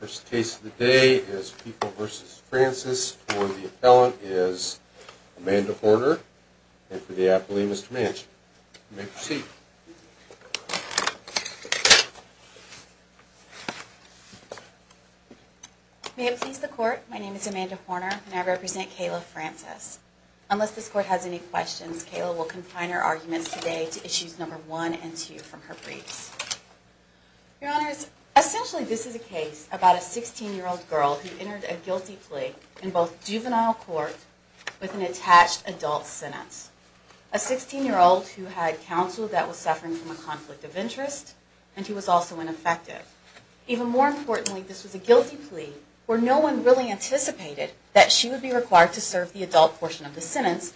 First case of the day is People v. Francis. For the appellant is Amanda Horner and for the appellee, Mr. Manchin. You may proceed. May it please the court, my name is Amanda Horner and I represent Kayla Francis. Unless this court has any questions, Kayla will confine her arguments today to issues number 1 and 2 from her briefs. Your Honors, essentially this is a case about a 16-year-old girl who entered a guilty plea in both juvenile court with an attached adult sentence. A 16-year-old who had counsel that was suffering from a conflict of interest and who was also ineffective. Even more importantly, this was a guilty plea where no one really anticipated that she would be required to serve the adult portion of the sentence,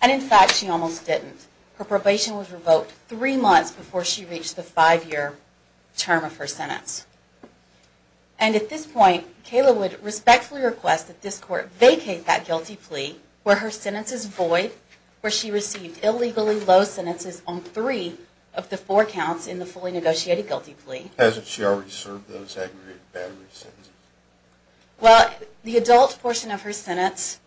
and in fact she almost didn't. Her probation was revoked three months before she reached the five-year term of her sentence. And at this point, Kayla would respectfully request that this court vacate that guilty plea where her sentence is void, where she received illegally low sentences on three of the four counts in the fully negotiated guilty plea. Hasn't she already served those aggravated battery sentences? Well, the adult portion of her sentence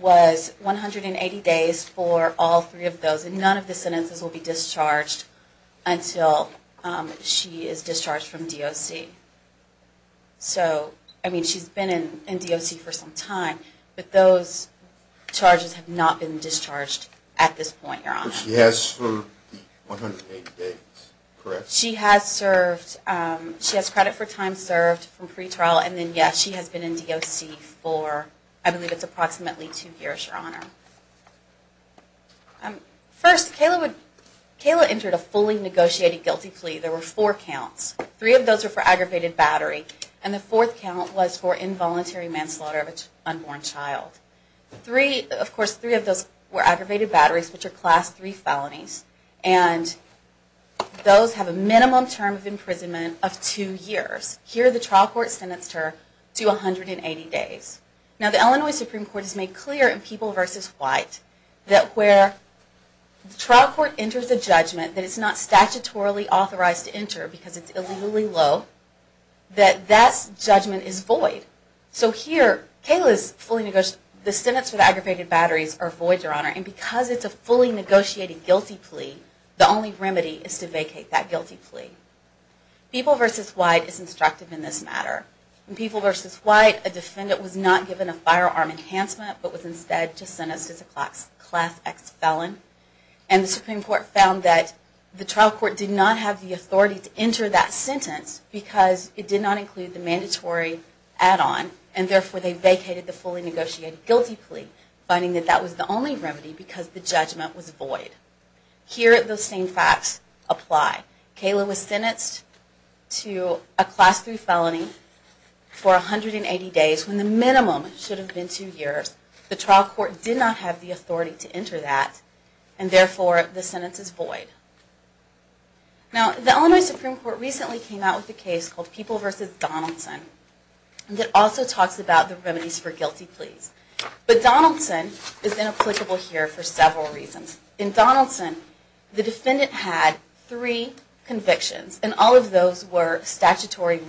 was 180 days for all three of those, and none of the sentences will be discharged until she is discharged from DOC. So, I mean, she's been in DOC for some time, but those charges have not been discharged at this point, Your Honor. But she has served the 180 days, correct? She has served, she has credit for time served from pretrial, and then, yes, she has been in DOC for, I believe it's approximately two years, Your Honor. First, Kayla entered a fully negotiated guilty plea. There were four counts. Three of those were for aggravated battery, and the fourth count was for involuntary manslaughter of an unborn child. Of course, three of those were aggravated batteries, which are Class III felonies. And those have a minimum term of imprisonment of two years. Here, the trial court sentenced her to 180 days. Now, the Illinois Supreme Court has made clear in People v. White that where the trial court enters a judgment that it's not statutorily authorized to enter because it's illegally low, that that judgment is void. So here, Kayla's fully negotiated, the sentence for the aggravated batteries are void, Your Honor, and because it's a fully negotiated guilty plea, the only remedy is to vacate that guilty plea. People v. White is instructive in this matter. In People v. White, a defendant was not given a firearm enhancement, but was instead just sentenced as a Class X felon. And the Supreme Court found that the trial court did not have the authority to enter that sentence because it did not include the mandatory add-on. And therefore, they vacated the fully negotiated guilty plea, finding that that was the only remedy because the judgment was void. Here, those same facts apply. Kayla was sentenced to a Class III felony for 180 days when the minimum should have been two years. The trial court did not have the authority to enter that, and therefore, the sentence is void. Now, the Illinois Supreme Court recently came out with a case called People v. Donaldson that also talks about the remedies for guilty pleas. But Donaldson is inapplicable here for several reasons. In Donaldson, the defendant had three convictions, and all of those were statutorily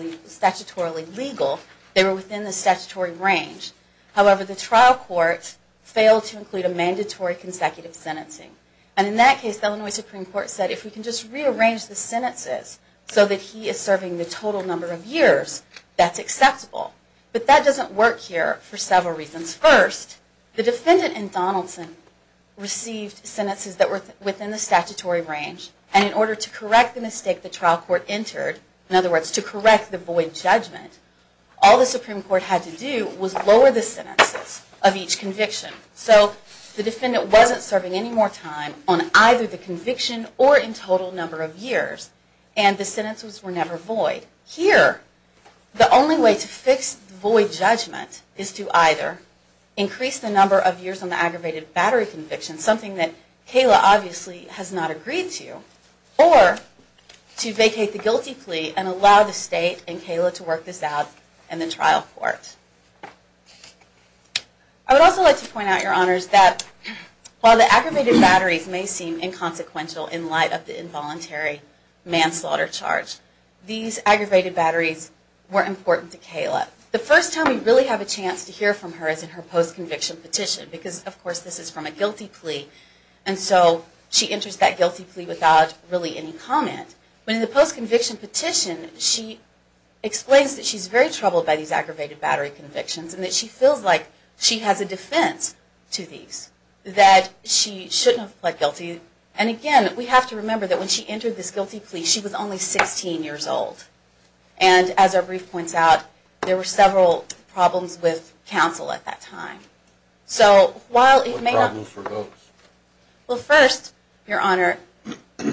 legal. They were within the statutory range. However, the trial court failed to include a mandatory consecutive sentencing. And in that case, the Illinois Supreme Court said, if we can just rearrange the sentences so that he is serving the total number of years, that's acceptable. But that doesn't work here for several reasons. First, the defendant in Donaldson received sentences that were within the statutory range, and in order to correct the mistake the trial court entered, in other words, to correct the void judgment, all the Supreme Court had to do was lower the sentences of each conviction. So the defendant wasn't serving any more time on either the conviction or in total number of years, and the sentences were never void. Here, the only way to fix the void judgment is to either increase the number of years on the aggravated battery conviction, something that Kayla obviously has not agreed to, or to vacate the guilty plea and allow the state and Kayla to work this out in the trial court. I would also like to point out, Your Honors, that while the aggravated batteries may seem inconsequential in light of the involuntary manslaughter charge, these aggravated batteries were important to Kayla. The first time we really have a chance to hear from her is in her post-conviction petition, because, of course, this is from a guilty plea, and so she enters that guilty plea without really any comment. But in the post-conviction petition, she explains that she's very troubled by these aggravated battery convictions and that she feels like she has a defense to these, that she shouldn't have pled guilty. And again, we have to remember that when she entered this guilty plea, she was only 16 years old. And as our brief points out, there were several problems with counsel at that time. What problems were those? Well, first, Your Honor,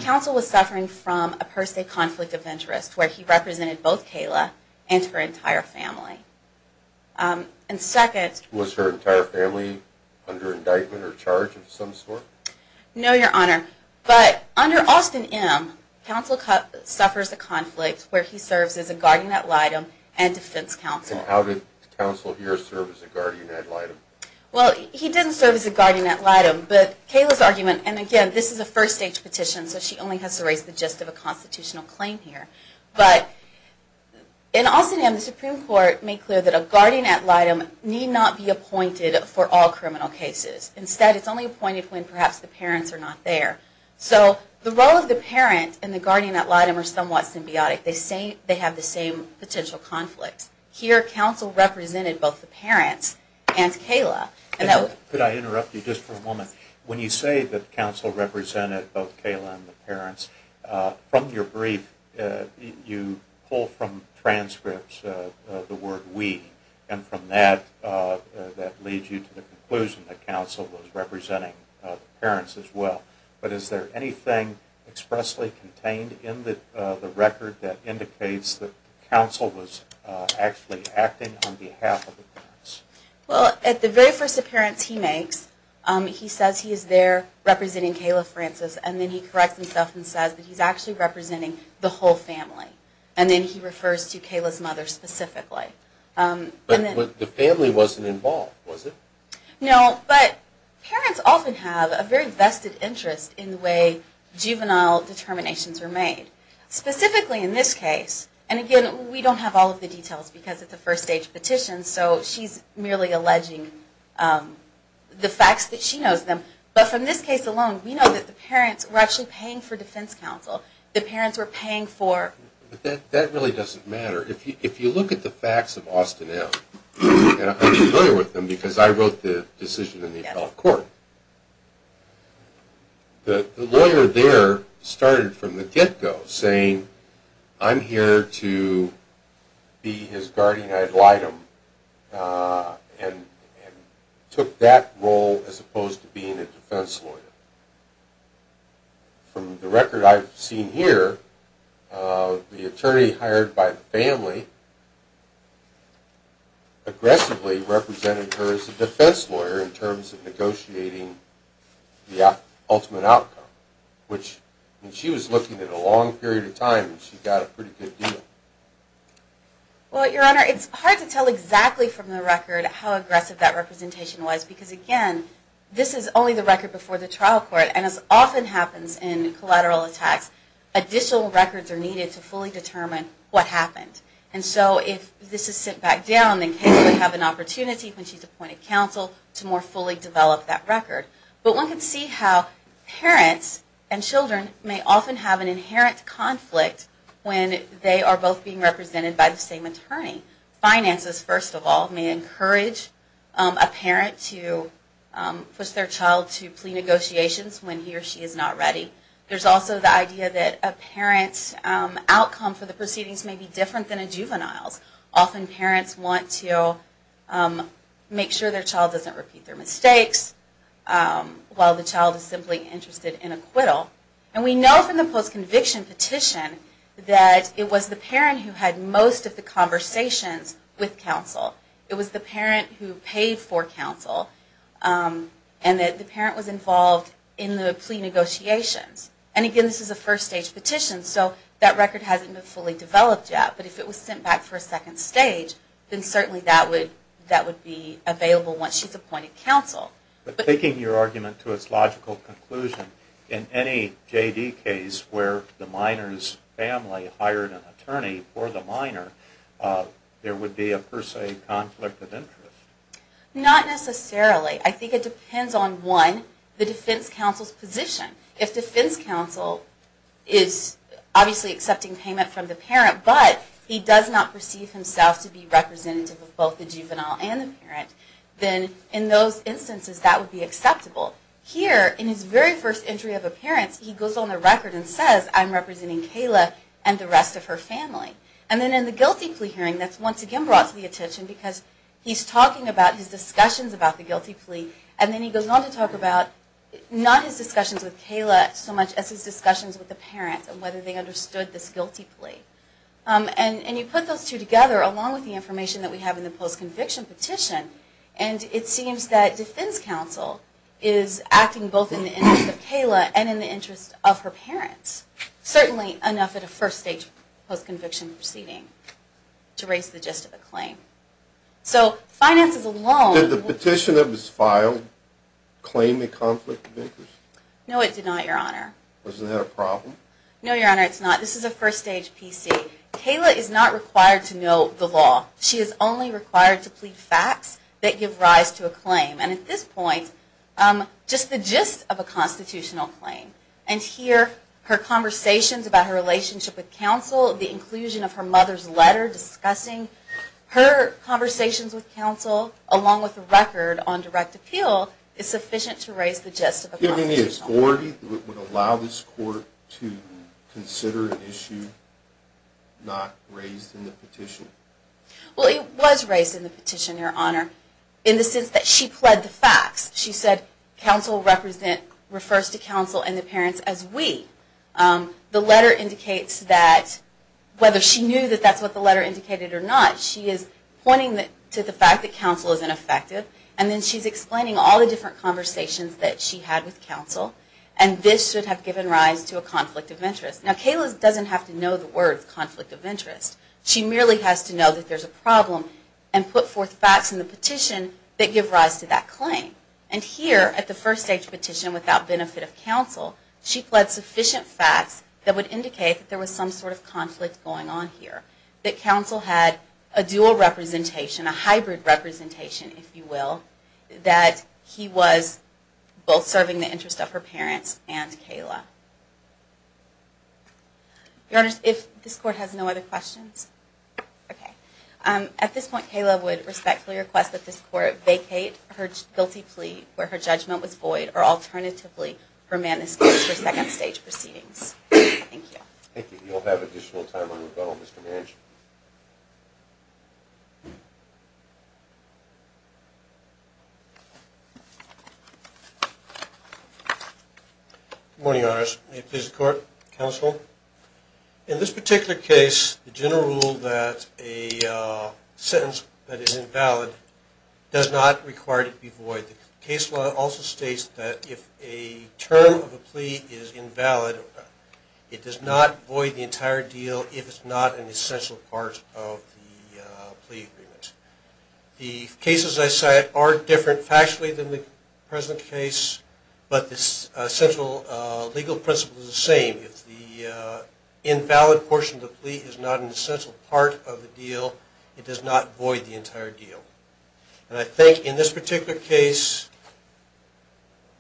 counsel was suffering from a per se conflict of interest, where he represented both Kayla and her entire family. And second... Was her entire family under indictment or charge of some sort? No, Your Honor. But under Austin M., counsel suffers a conflict where he serves as a guardian ad litem and defense counsel. And how did counsel here serve as a guardian ad litem? Well, he didn't serve as a guardian ad litem, but Kayla's argument... And again, this is a first-stage petition, so she only has to raise the gist of a constitutional claim here. But in Austin M., the Supreme Court made clear that a guardian ad litem need not be appointed for all criminal cases. Instead, it's only appointed when perhaps the parents are not there. So the role of the parent and the guardian ad litem are somewhat symbiotic. They have the same potential conflict. Here, counsel represented both the parents and Kayla. Could I interrupt you just for a moment? When you say that counsel represented both Kayla and the parents, from your brief, you pull from transcripts the word we. And from that, that leads you to the conclusion that counsel was representing the parents as well. But is there anything expressly contained in the record that indicates that counsel was actually acting on behalf of the parents? Well, at the very first appearance he makes, he says he is there representing Kayla Francis. And then he corrects himself and says that he's actually representing the whole family. And then he refers to Kayla's mother specifically. But the family wasn't involved, was it? No, but parents often have a very vested interest in the way juvenile determinations are made. Specifically in this case, and again, we don't have all of the details because it's a first-stage petition, so she's merely alleging the facts that she knows them. But from this case alone, we know that the parents were actually paying for defense counsel. The parents were paying for... That really doesn't matter. If you look at the facts of Austin M. And I'm familiar with them because I wrote the decision in the appellate court. The lawyer there started from the get-go saying, I'm here to be his guardian ad litem and took that role as opposed to being a defense lawyer. From the record I've seen here, the attorney hired by the family aggressively represented her as a defense lawyer in terms of negotiating the ultimate outcome. And she was looking at a long period of time and she got a pretty good deal. Well, Your Honor, it's hard to tell exactly from the record how aggressive that representation was because, again, this is only the record before the trial court. And as often happens in collateral attacks, additional records are needed to fully determine what happened. And so if this is sent back down, then Kayla would have an opportunity when she's appointed counsel to more fully develop that record. But one can see how parents and children may often have an inherent conflict when they are both being represented by the same attorney. Finances, first of all, may encourage a parent to push their child to plea negotiations when he or she is not ready. There's also the idea that a parent's outcome for the proceedings may be different than a juvenile's. Often parents want to make sure their child doesn't repeat their mistakes while the child is simply interested in acquittal. And we know from the post-conviction petition that it was the parent who had most of the conversations with counsel. It was the parent who paid for counsel and that the parent was involved in the plea negotiations. And again, this is a first stage petition, so that record hasn't been fully developed yet. But if it was sent back for a second stage, then certainly that would be available once she's appointed counsel. But taking your argument to its logical conclusion, in any JD case where the minor's family hired an attorney for the minor, there would be a per se conflict of interest. Not necessarily. I think it depends on, one, the defense counsel's position. If defense counsel is obviously accepting payment from the parent, but he does not perceive himself to be representative of both the juvenile and the parent, then in those instances that would be acceptable. Here, in his very first entry of appearance, he goes on the record and says, I'm representing Kayla and the rest of her family. And then in the guilty plea hearing, that's once again brought to the attention because he's talking about his discussions about the guilty plea, and then he goes on to talk about not his discussions with Kayla so much as his discussions with the parent and whether they understood this guilty plea. And you put those two together along with the information that we have in the post-conviction petition, and it seems that defense counsel is acting both in the interest of Kayla and in the interest of her parents. Certainly enough at a first-stage post-conviction proceeding to raise the gist of the claim. So finances alone... Did the petition that was filed claim a conflict of interest? No, it did not, Your Honor. Was that a problem? No, Your Honor, it's not. This is a first-stage PC. Kayla is not required to know the law. She is only required to plead facts that give rise to a claim. And at this point, just the gist of a constitutional claim, and here her conversations about her relationship with counsel, the inclusion of her mother's letter discussing her conversations with counsel, along with the record on direct appeal, is sufficient to raise the gist of a constitutional claim. Do you have any authority that would allow this court to consider an issue not raised in the petition? Well, it was raised in the petition, Your Honor, in the sense that she pled the facts. She said counsel refers to counsel and the parents as we. The letter indicates that whether she knew that that's what the letter indicated or not, she is pointing to the fact that counsel is ineffective, and then she's explaining all the different conversations that she had with counsel, and this should have given rise to a conflict of interest. Now, Kayla doesn't have to know the words conflict of interest. She merely has to know that there's a problem and put forth facts in the petition that give rise to that claim. And here, at the first-stage petition without benefit of counsel, she pled sufficient facts that would indicate that there was some sort of conflict going on here, that counsel had a dual representation, a hybrid representation, if you will, that he was both serving the interest of her parents and Kayla. Your Honor, if this court has no other questions? Okay. At this point, Kayla would respectfully request that this court vacate her guilty plea where her judgment was void, or alternatively, her manuscript for second-stage proceedings. Thank you. Thank you. You'll have additional time on rebuttal, Mr. Manchin. Good morning, Your Honor. May it please the court, counsel. In this particular case, the general rule that a sentence that is invalid does not require it to be void. The case law also states that if a term of a plea is invalid, it does not void the entire deal if it's not an essential part of the plea agreement. The cases I cite are different factually than the present case, but the essential legal principle is the same. If the invalid portion of the plea is not an essential part of the deal, it does not void the entire deal. And I think in this particular case,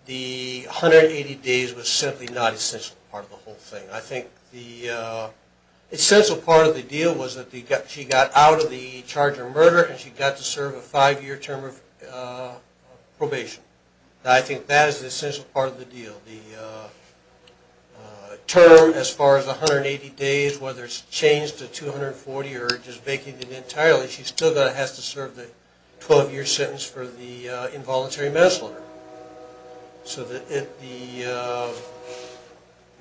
the 180 days was simply not an essential part of the whole thing. I think the essential part of the deal was that she got out of the charge of murder and she got to serve a five-year term of probation. I think that is the essential part of the deal. The term, as far as the 180 days, whether it's changed to 240 or just vacated entirely, she still has to serve the 12-year sentence for the involuntary manslaughter. So the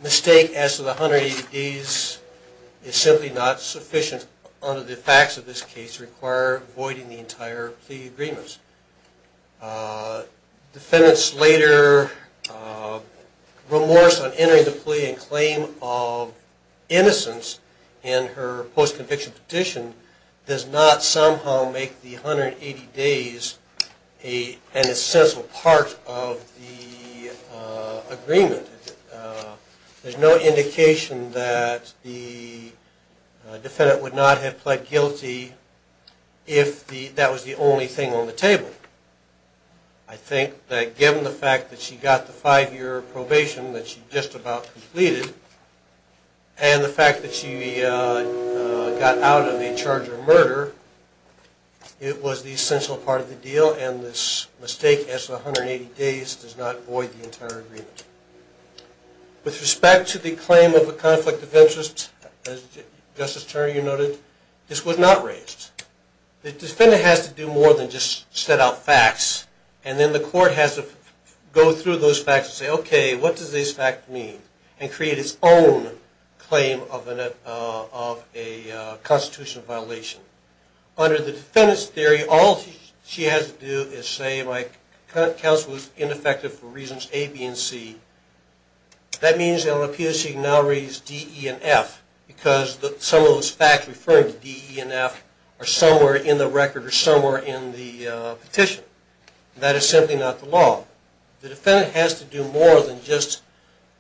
mistake as to the 180 days is simply not sufficient under the facts of this case to require voiding the entire plea agreements. Defendant's later remorse on entering the plea in claim of innocence in her post-conviction petition does not somehow make the 180 days an essential part of the agreement. There's no indication that the defendant would not have pled guilty if that was the only thing on the table. I think that given the fact that she got the five-year probation that she just about completed and the fact that she got out of a charge of murder, it was the essential part of the deal and this mistake as to the 180 days does not void the entire agreement. With respect to the claim of a conflict of interest, as Justice Turner, you noted, this was not raised. The defendant has to do more than just set out facts and then the court has to go through those facts and say, okay, what does this fact mean? And create its own claim of a constitutional violation. Under the defendant's theory, all she has to do is say my counsel was ineffective for reasons A, B, and C. That means it would appear she now raised D, E, and F because some of those facts referring to D, E, and F are somewhere in the record or somewhere in the petition. That is simply not the law. The defendant has to do more than just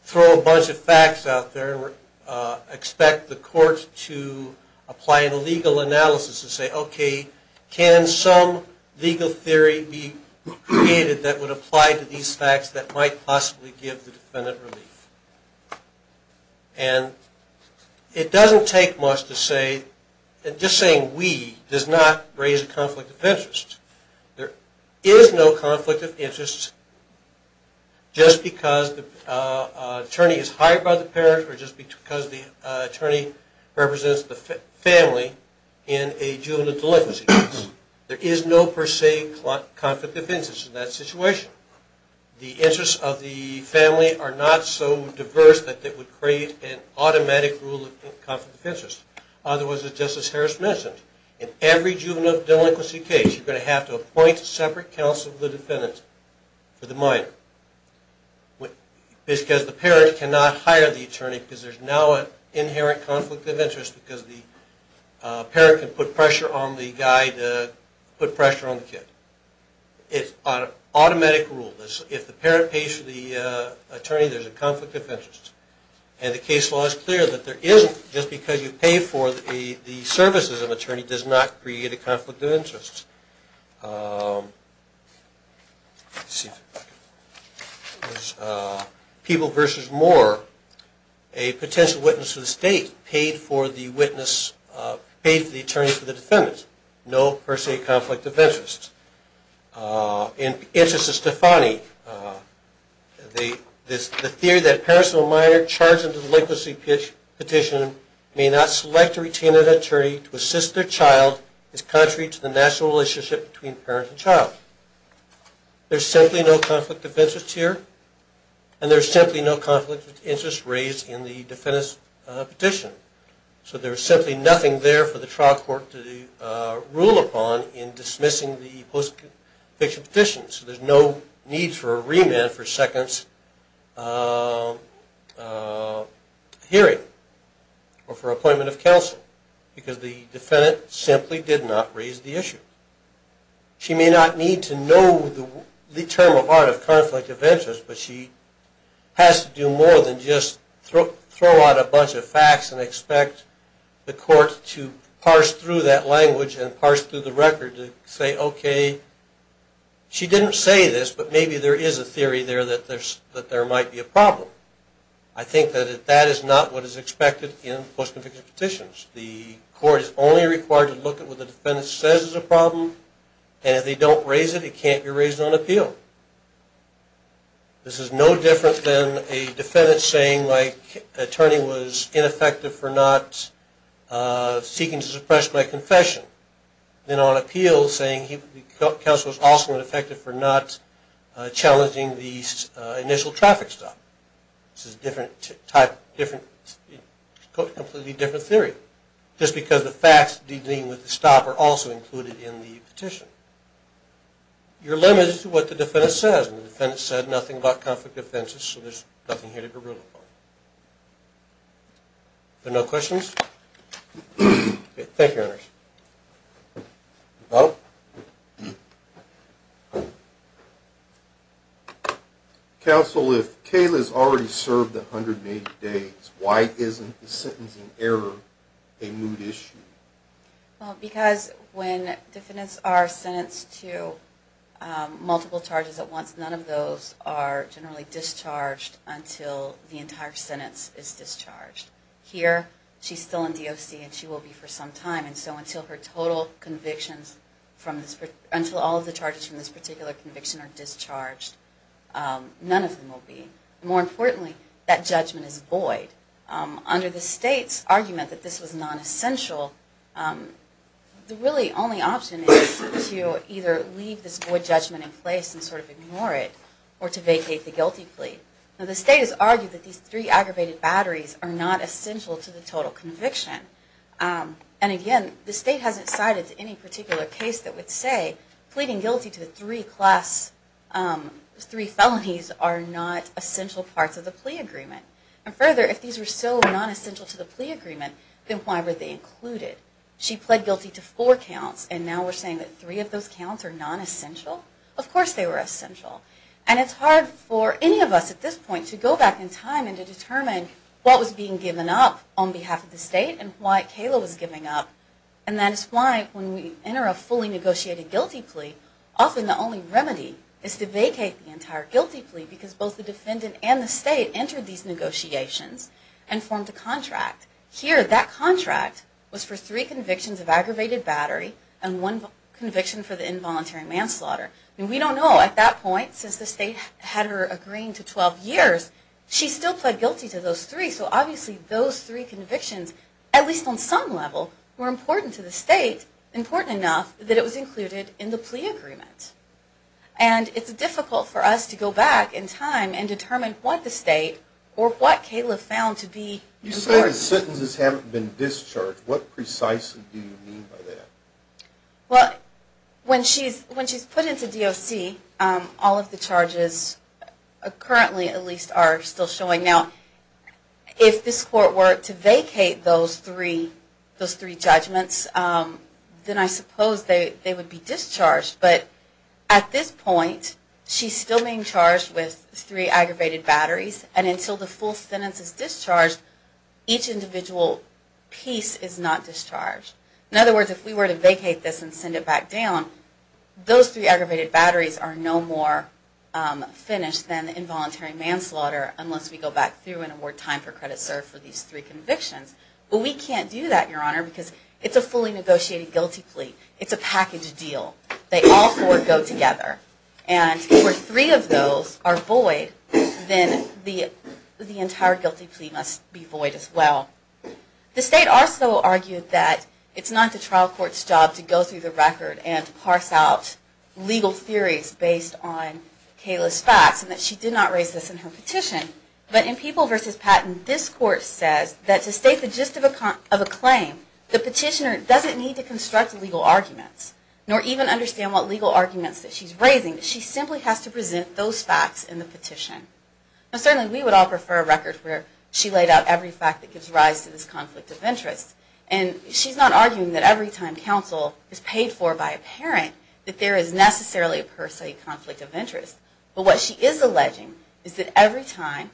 throw a bunch of facts out there and expect the court to apply a legal analysis and say, okay, can some legal theory be created that would apply to these facts that might possibly give the defendant relief? And it doesn't take much to say, just saying we does not raise a conflict of interest. There is no conflict of interest just because the attorney is hired by the parent or just because the attorney represents the family in a juvenile delinquency case. There is no per se conflict of interest in that situation. The interests of the family are not so diverse that it would create an automatic rule of conflict of interest. Otherwise, just as Harris mentioned, in every juvenile delinquency case, you're going to have to appoint a separate counsel to the defendant for the minor. This is because the parent cannot hire the attorney because there's now an inherent conflict of interest because the parent can put pressure on the guy to put pressure on the kid. It's an automatic rule. If the parent pays for the attorney, there's a conflict of interest. And the case law is clear that there isn't, just because you pay for the services of an attorney, does not create a conflict of interest. People versus Moore, a potential witness to the state paid for the attorney for the defendant. No per se conflict of interest. In the interest of Stefani, the theory that parents of a minor charged in a delinquency petition may not select or retain an attorney to assist their child is contrary to the national relationship between parent and child. There's simply no conflict of interest here, and there's simply no conflict of interest raised in the defendant's petition. So there's simply nothing there for the trial court to rule upon in dismissing the post-conviction petition. So there's no need for a remand for seconds hearing or for appointment of counsel because the defendant simply did not raise the issue. She may not need to know the term of art of conflict of interest, but she has to do more than just throw out a bunch of facts and expect the court to parse through that language and parse through the record to say, okay, she didn't say this, but maybe there is a theory there that there might be a problem. I think that that is not what is expected in post-conviction petitions. The court is only required to look at what the defendant says is a problem, and if they don't raise it, it can't be raised on appeal. This is no different than a defendant saying my attorney was ineffective for not seeking to suppress my confession than on appeal saying the counsel was also ineffective for not challenging the initial traffic stop. This is a completely different theory, just because the facts dealing with the stop are also included in the petition. You're limited to what the defendant says, and the defendant said nothing about conflict of interest, so there's nothing here to be ruled upon. Are there no questions? Thank you, Your Honor. Counsel, if Kayla has already served 180 days, why isn't the sentencing error a moot issue? Because when defendants are sentenced to multiple charges at once, none of those are generally discharged until the entire sentence is discharged. Here, she's still in DOC and she will be for some time, and so until all of the charges from this particular conviction are discharged, none of them will be. More importantly, that judgment is void. Under the state's argument that this was non-essential, the really only option is to either leave this void judgment in place and sort of ignore it, or to vacate the guilty plea. Now, the state has argued that these three aggravated batteries are not essential to the total conviction. And again, the state hasn't cited any particular case that would say pleading guilty to the three class, three felonies are not essential parts of the plea agreement. And further, if these were so non-essential to the plea agreement, then why were they included? She pled guilty to four counts, and now we're saying that three of those counts are non-essential? Of course they were essential. And it's hard for any of us at this point to go back in time and to determine what was being given up on behalf of the state and why Kayla was giving up. And that is why when we enter a fully negotiated guilty plea, often the only remedy is to vacate the entire guilty plea, because both the defendant and the state entered these negotiations and formed a contract. Here, that contract was for three convictions of aggravated battery and one conviction for the involuntary manslaughter. And we don't know at that point, since the state had her agreeing to 12 years, she still pled guilty to those three, so obviously those three convictions, at least on some level, were important to the state, important enough that it was included in the plea agreement. And it's difficult for us to go back in time and determine what the state or what Kayla found to be the parties. You said the sentences haven't been discharged. What precisely do you mean by that? Well, when she's put into DOC, all of the charges, currently at least, are still showing. Now, if this court were to vacate those three judgments, then I suppose they would be discharged. But at this point, she's still being charged with three aggravated batteries, and until the full sentence is discharged, each individual piece is not discharged. In other words, if we were to vacate this and send it back down, those three aggravated batteries are no more finished than the involuntary manslaughter, unless we go back through and award time for credit served for these three convictions. But we can't do that, Your Honor, because it's a fully negotiated guilty plea. It's a package deal. They all four go together. And where three of those are void, then the entire guilty plea must be void as well. The state also argued that it's not the trial court's job to go through the record and parse out legal theories based on Kayla's facts, and that she did not raise this in her petition. But in People v. Patton, this court says that to state the gist of a claim, the petitioner doesn't need to construct legal arguments, nor even understand what legal arguments that she's raising. She simply has to present those facts in the petition. Certainly we would all prefer a record where she laid out every fact that gives rise to this conflict of interest. And she's not arguing that every time counsel is paid for by a parent, that there is necessarily a per se conflict of interest. But what she is alleging is that every time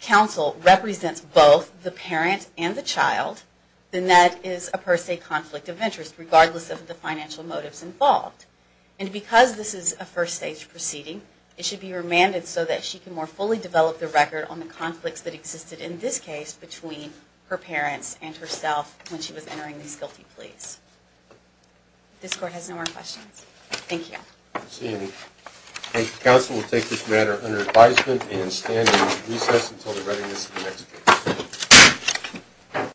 counsel represents both the parent and the child, then that is a per se conflict of interest, regardless of the financial motives involved. And because this is a first stage proceeding, it should be remanded so that she can more fully develop the record on the conflicts that existed in this case between her parents and herself when she was entering these guilty pleas. This court has no more questions. Thank you. Thank you. Counsel will take this matter under advisement and stand in recess until the readiness of the next case.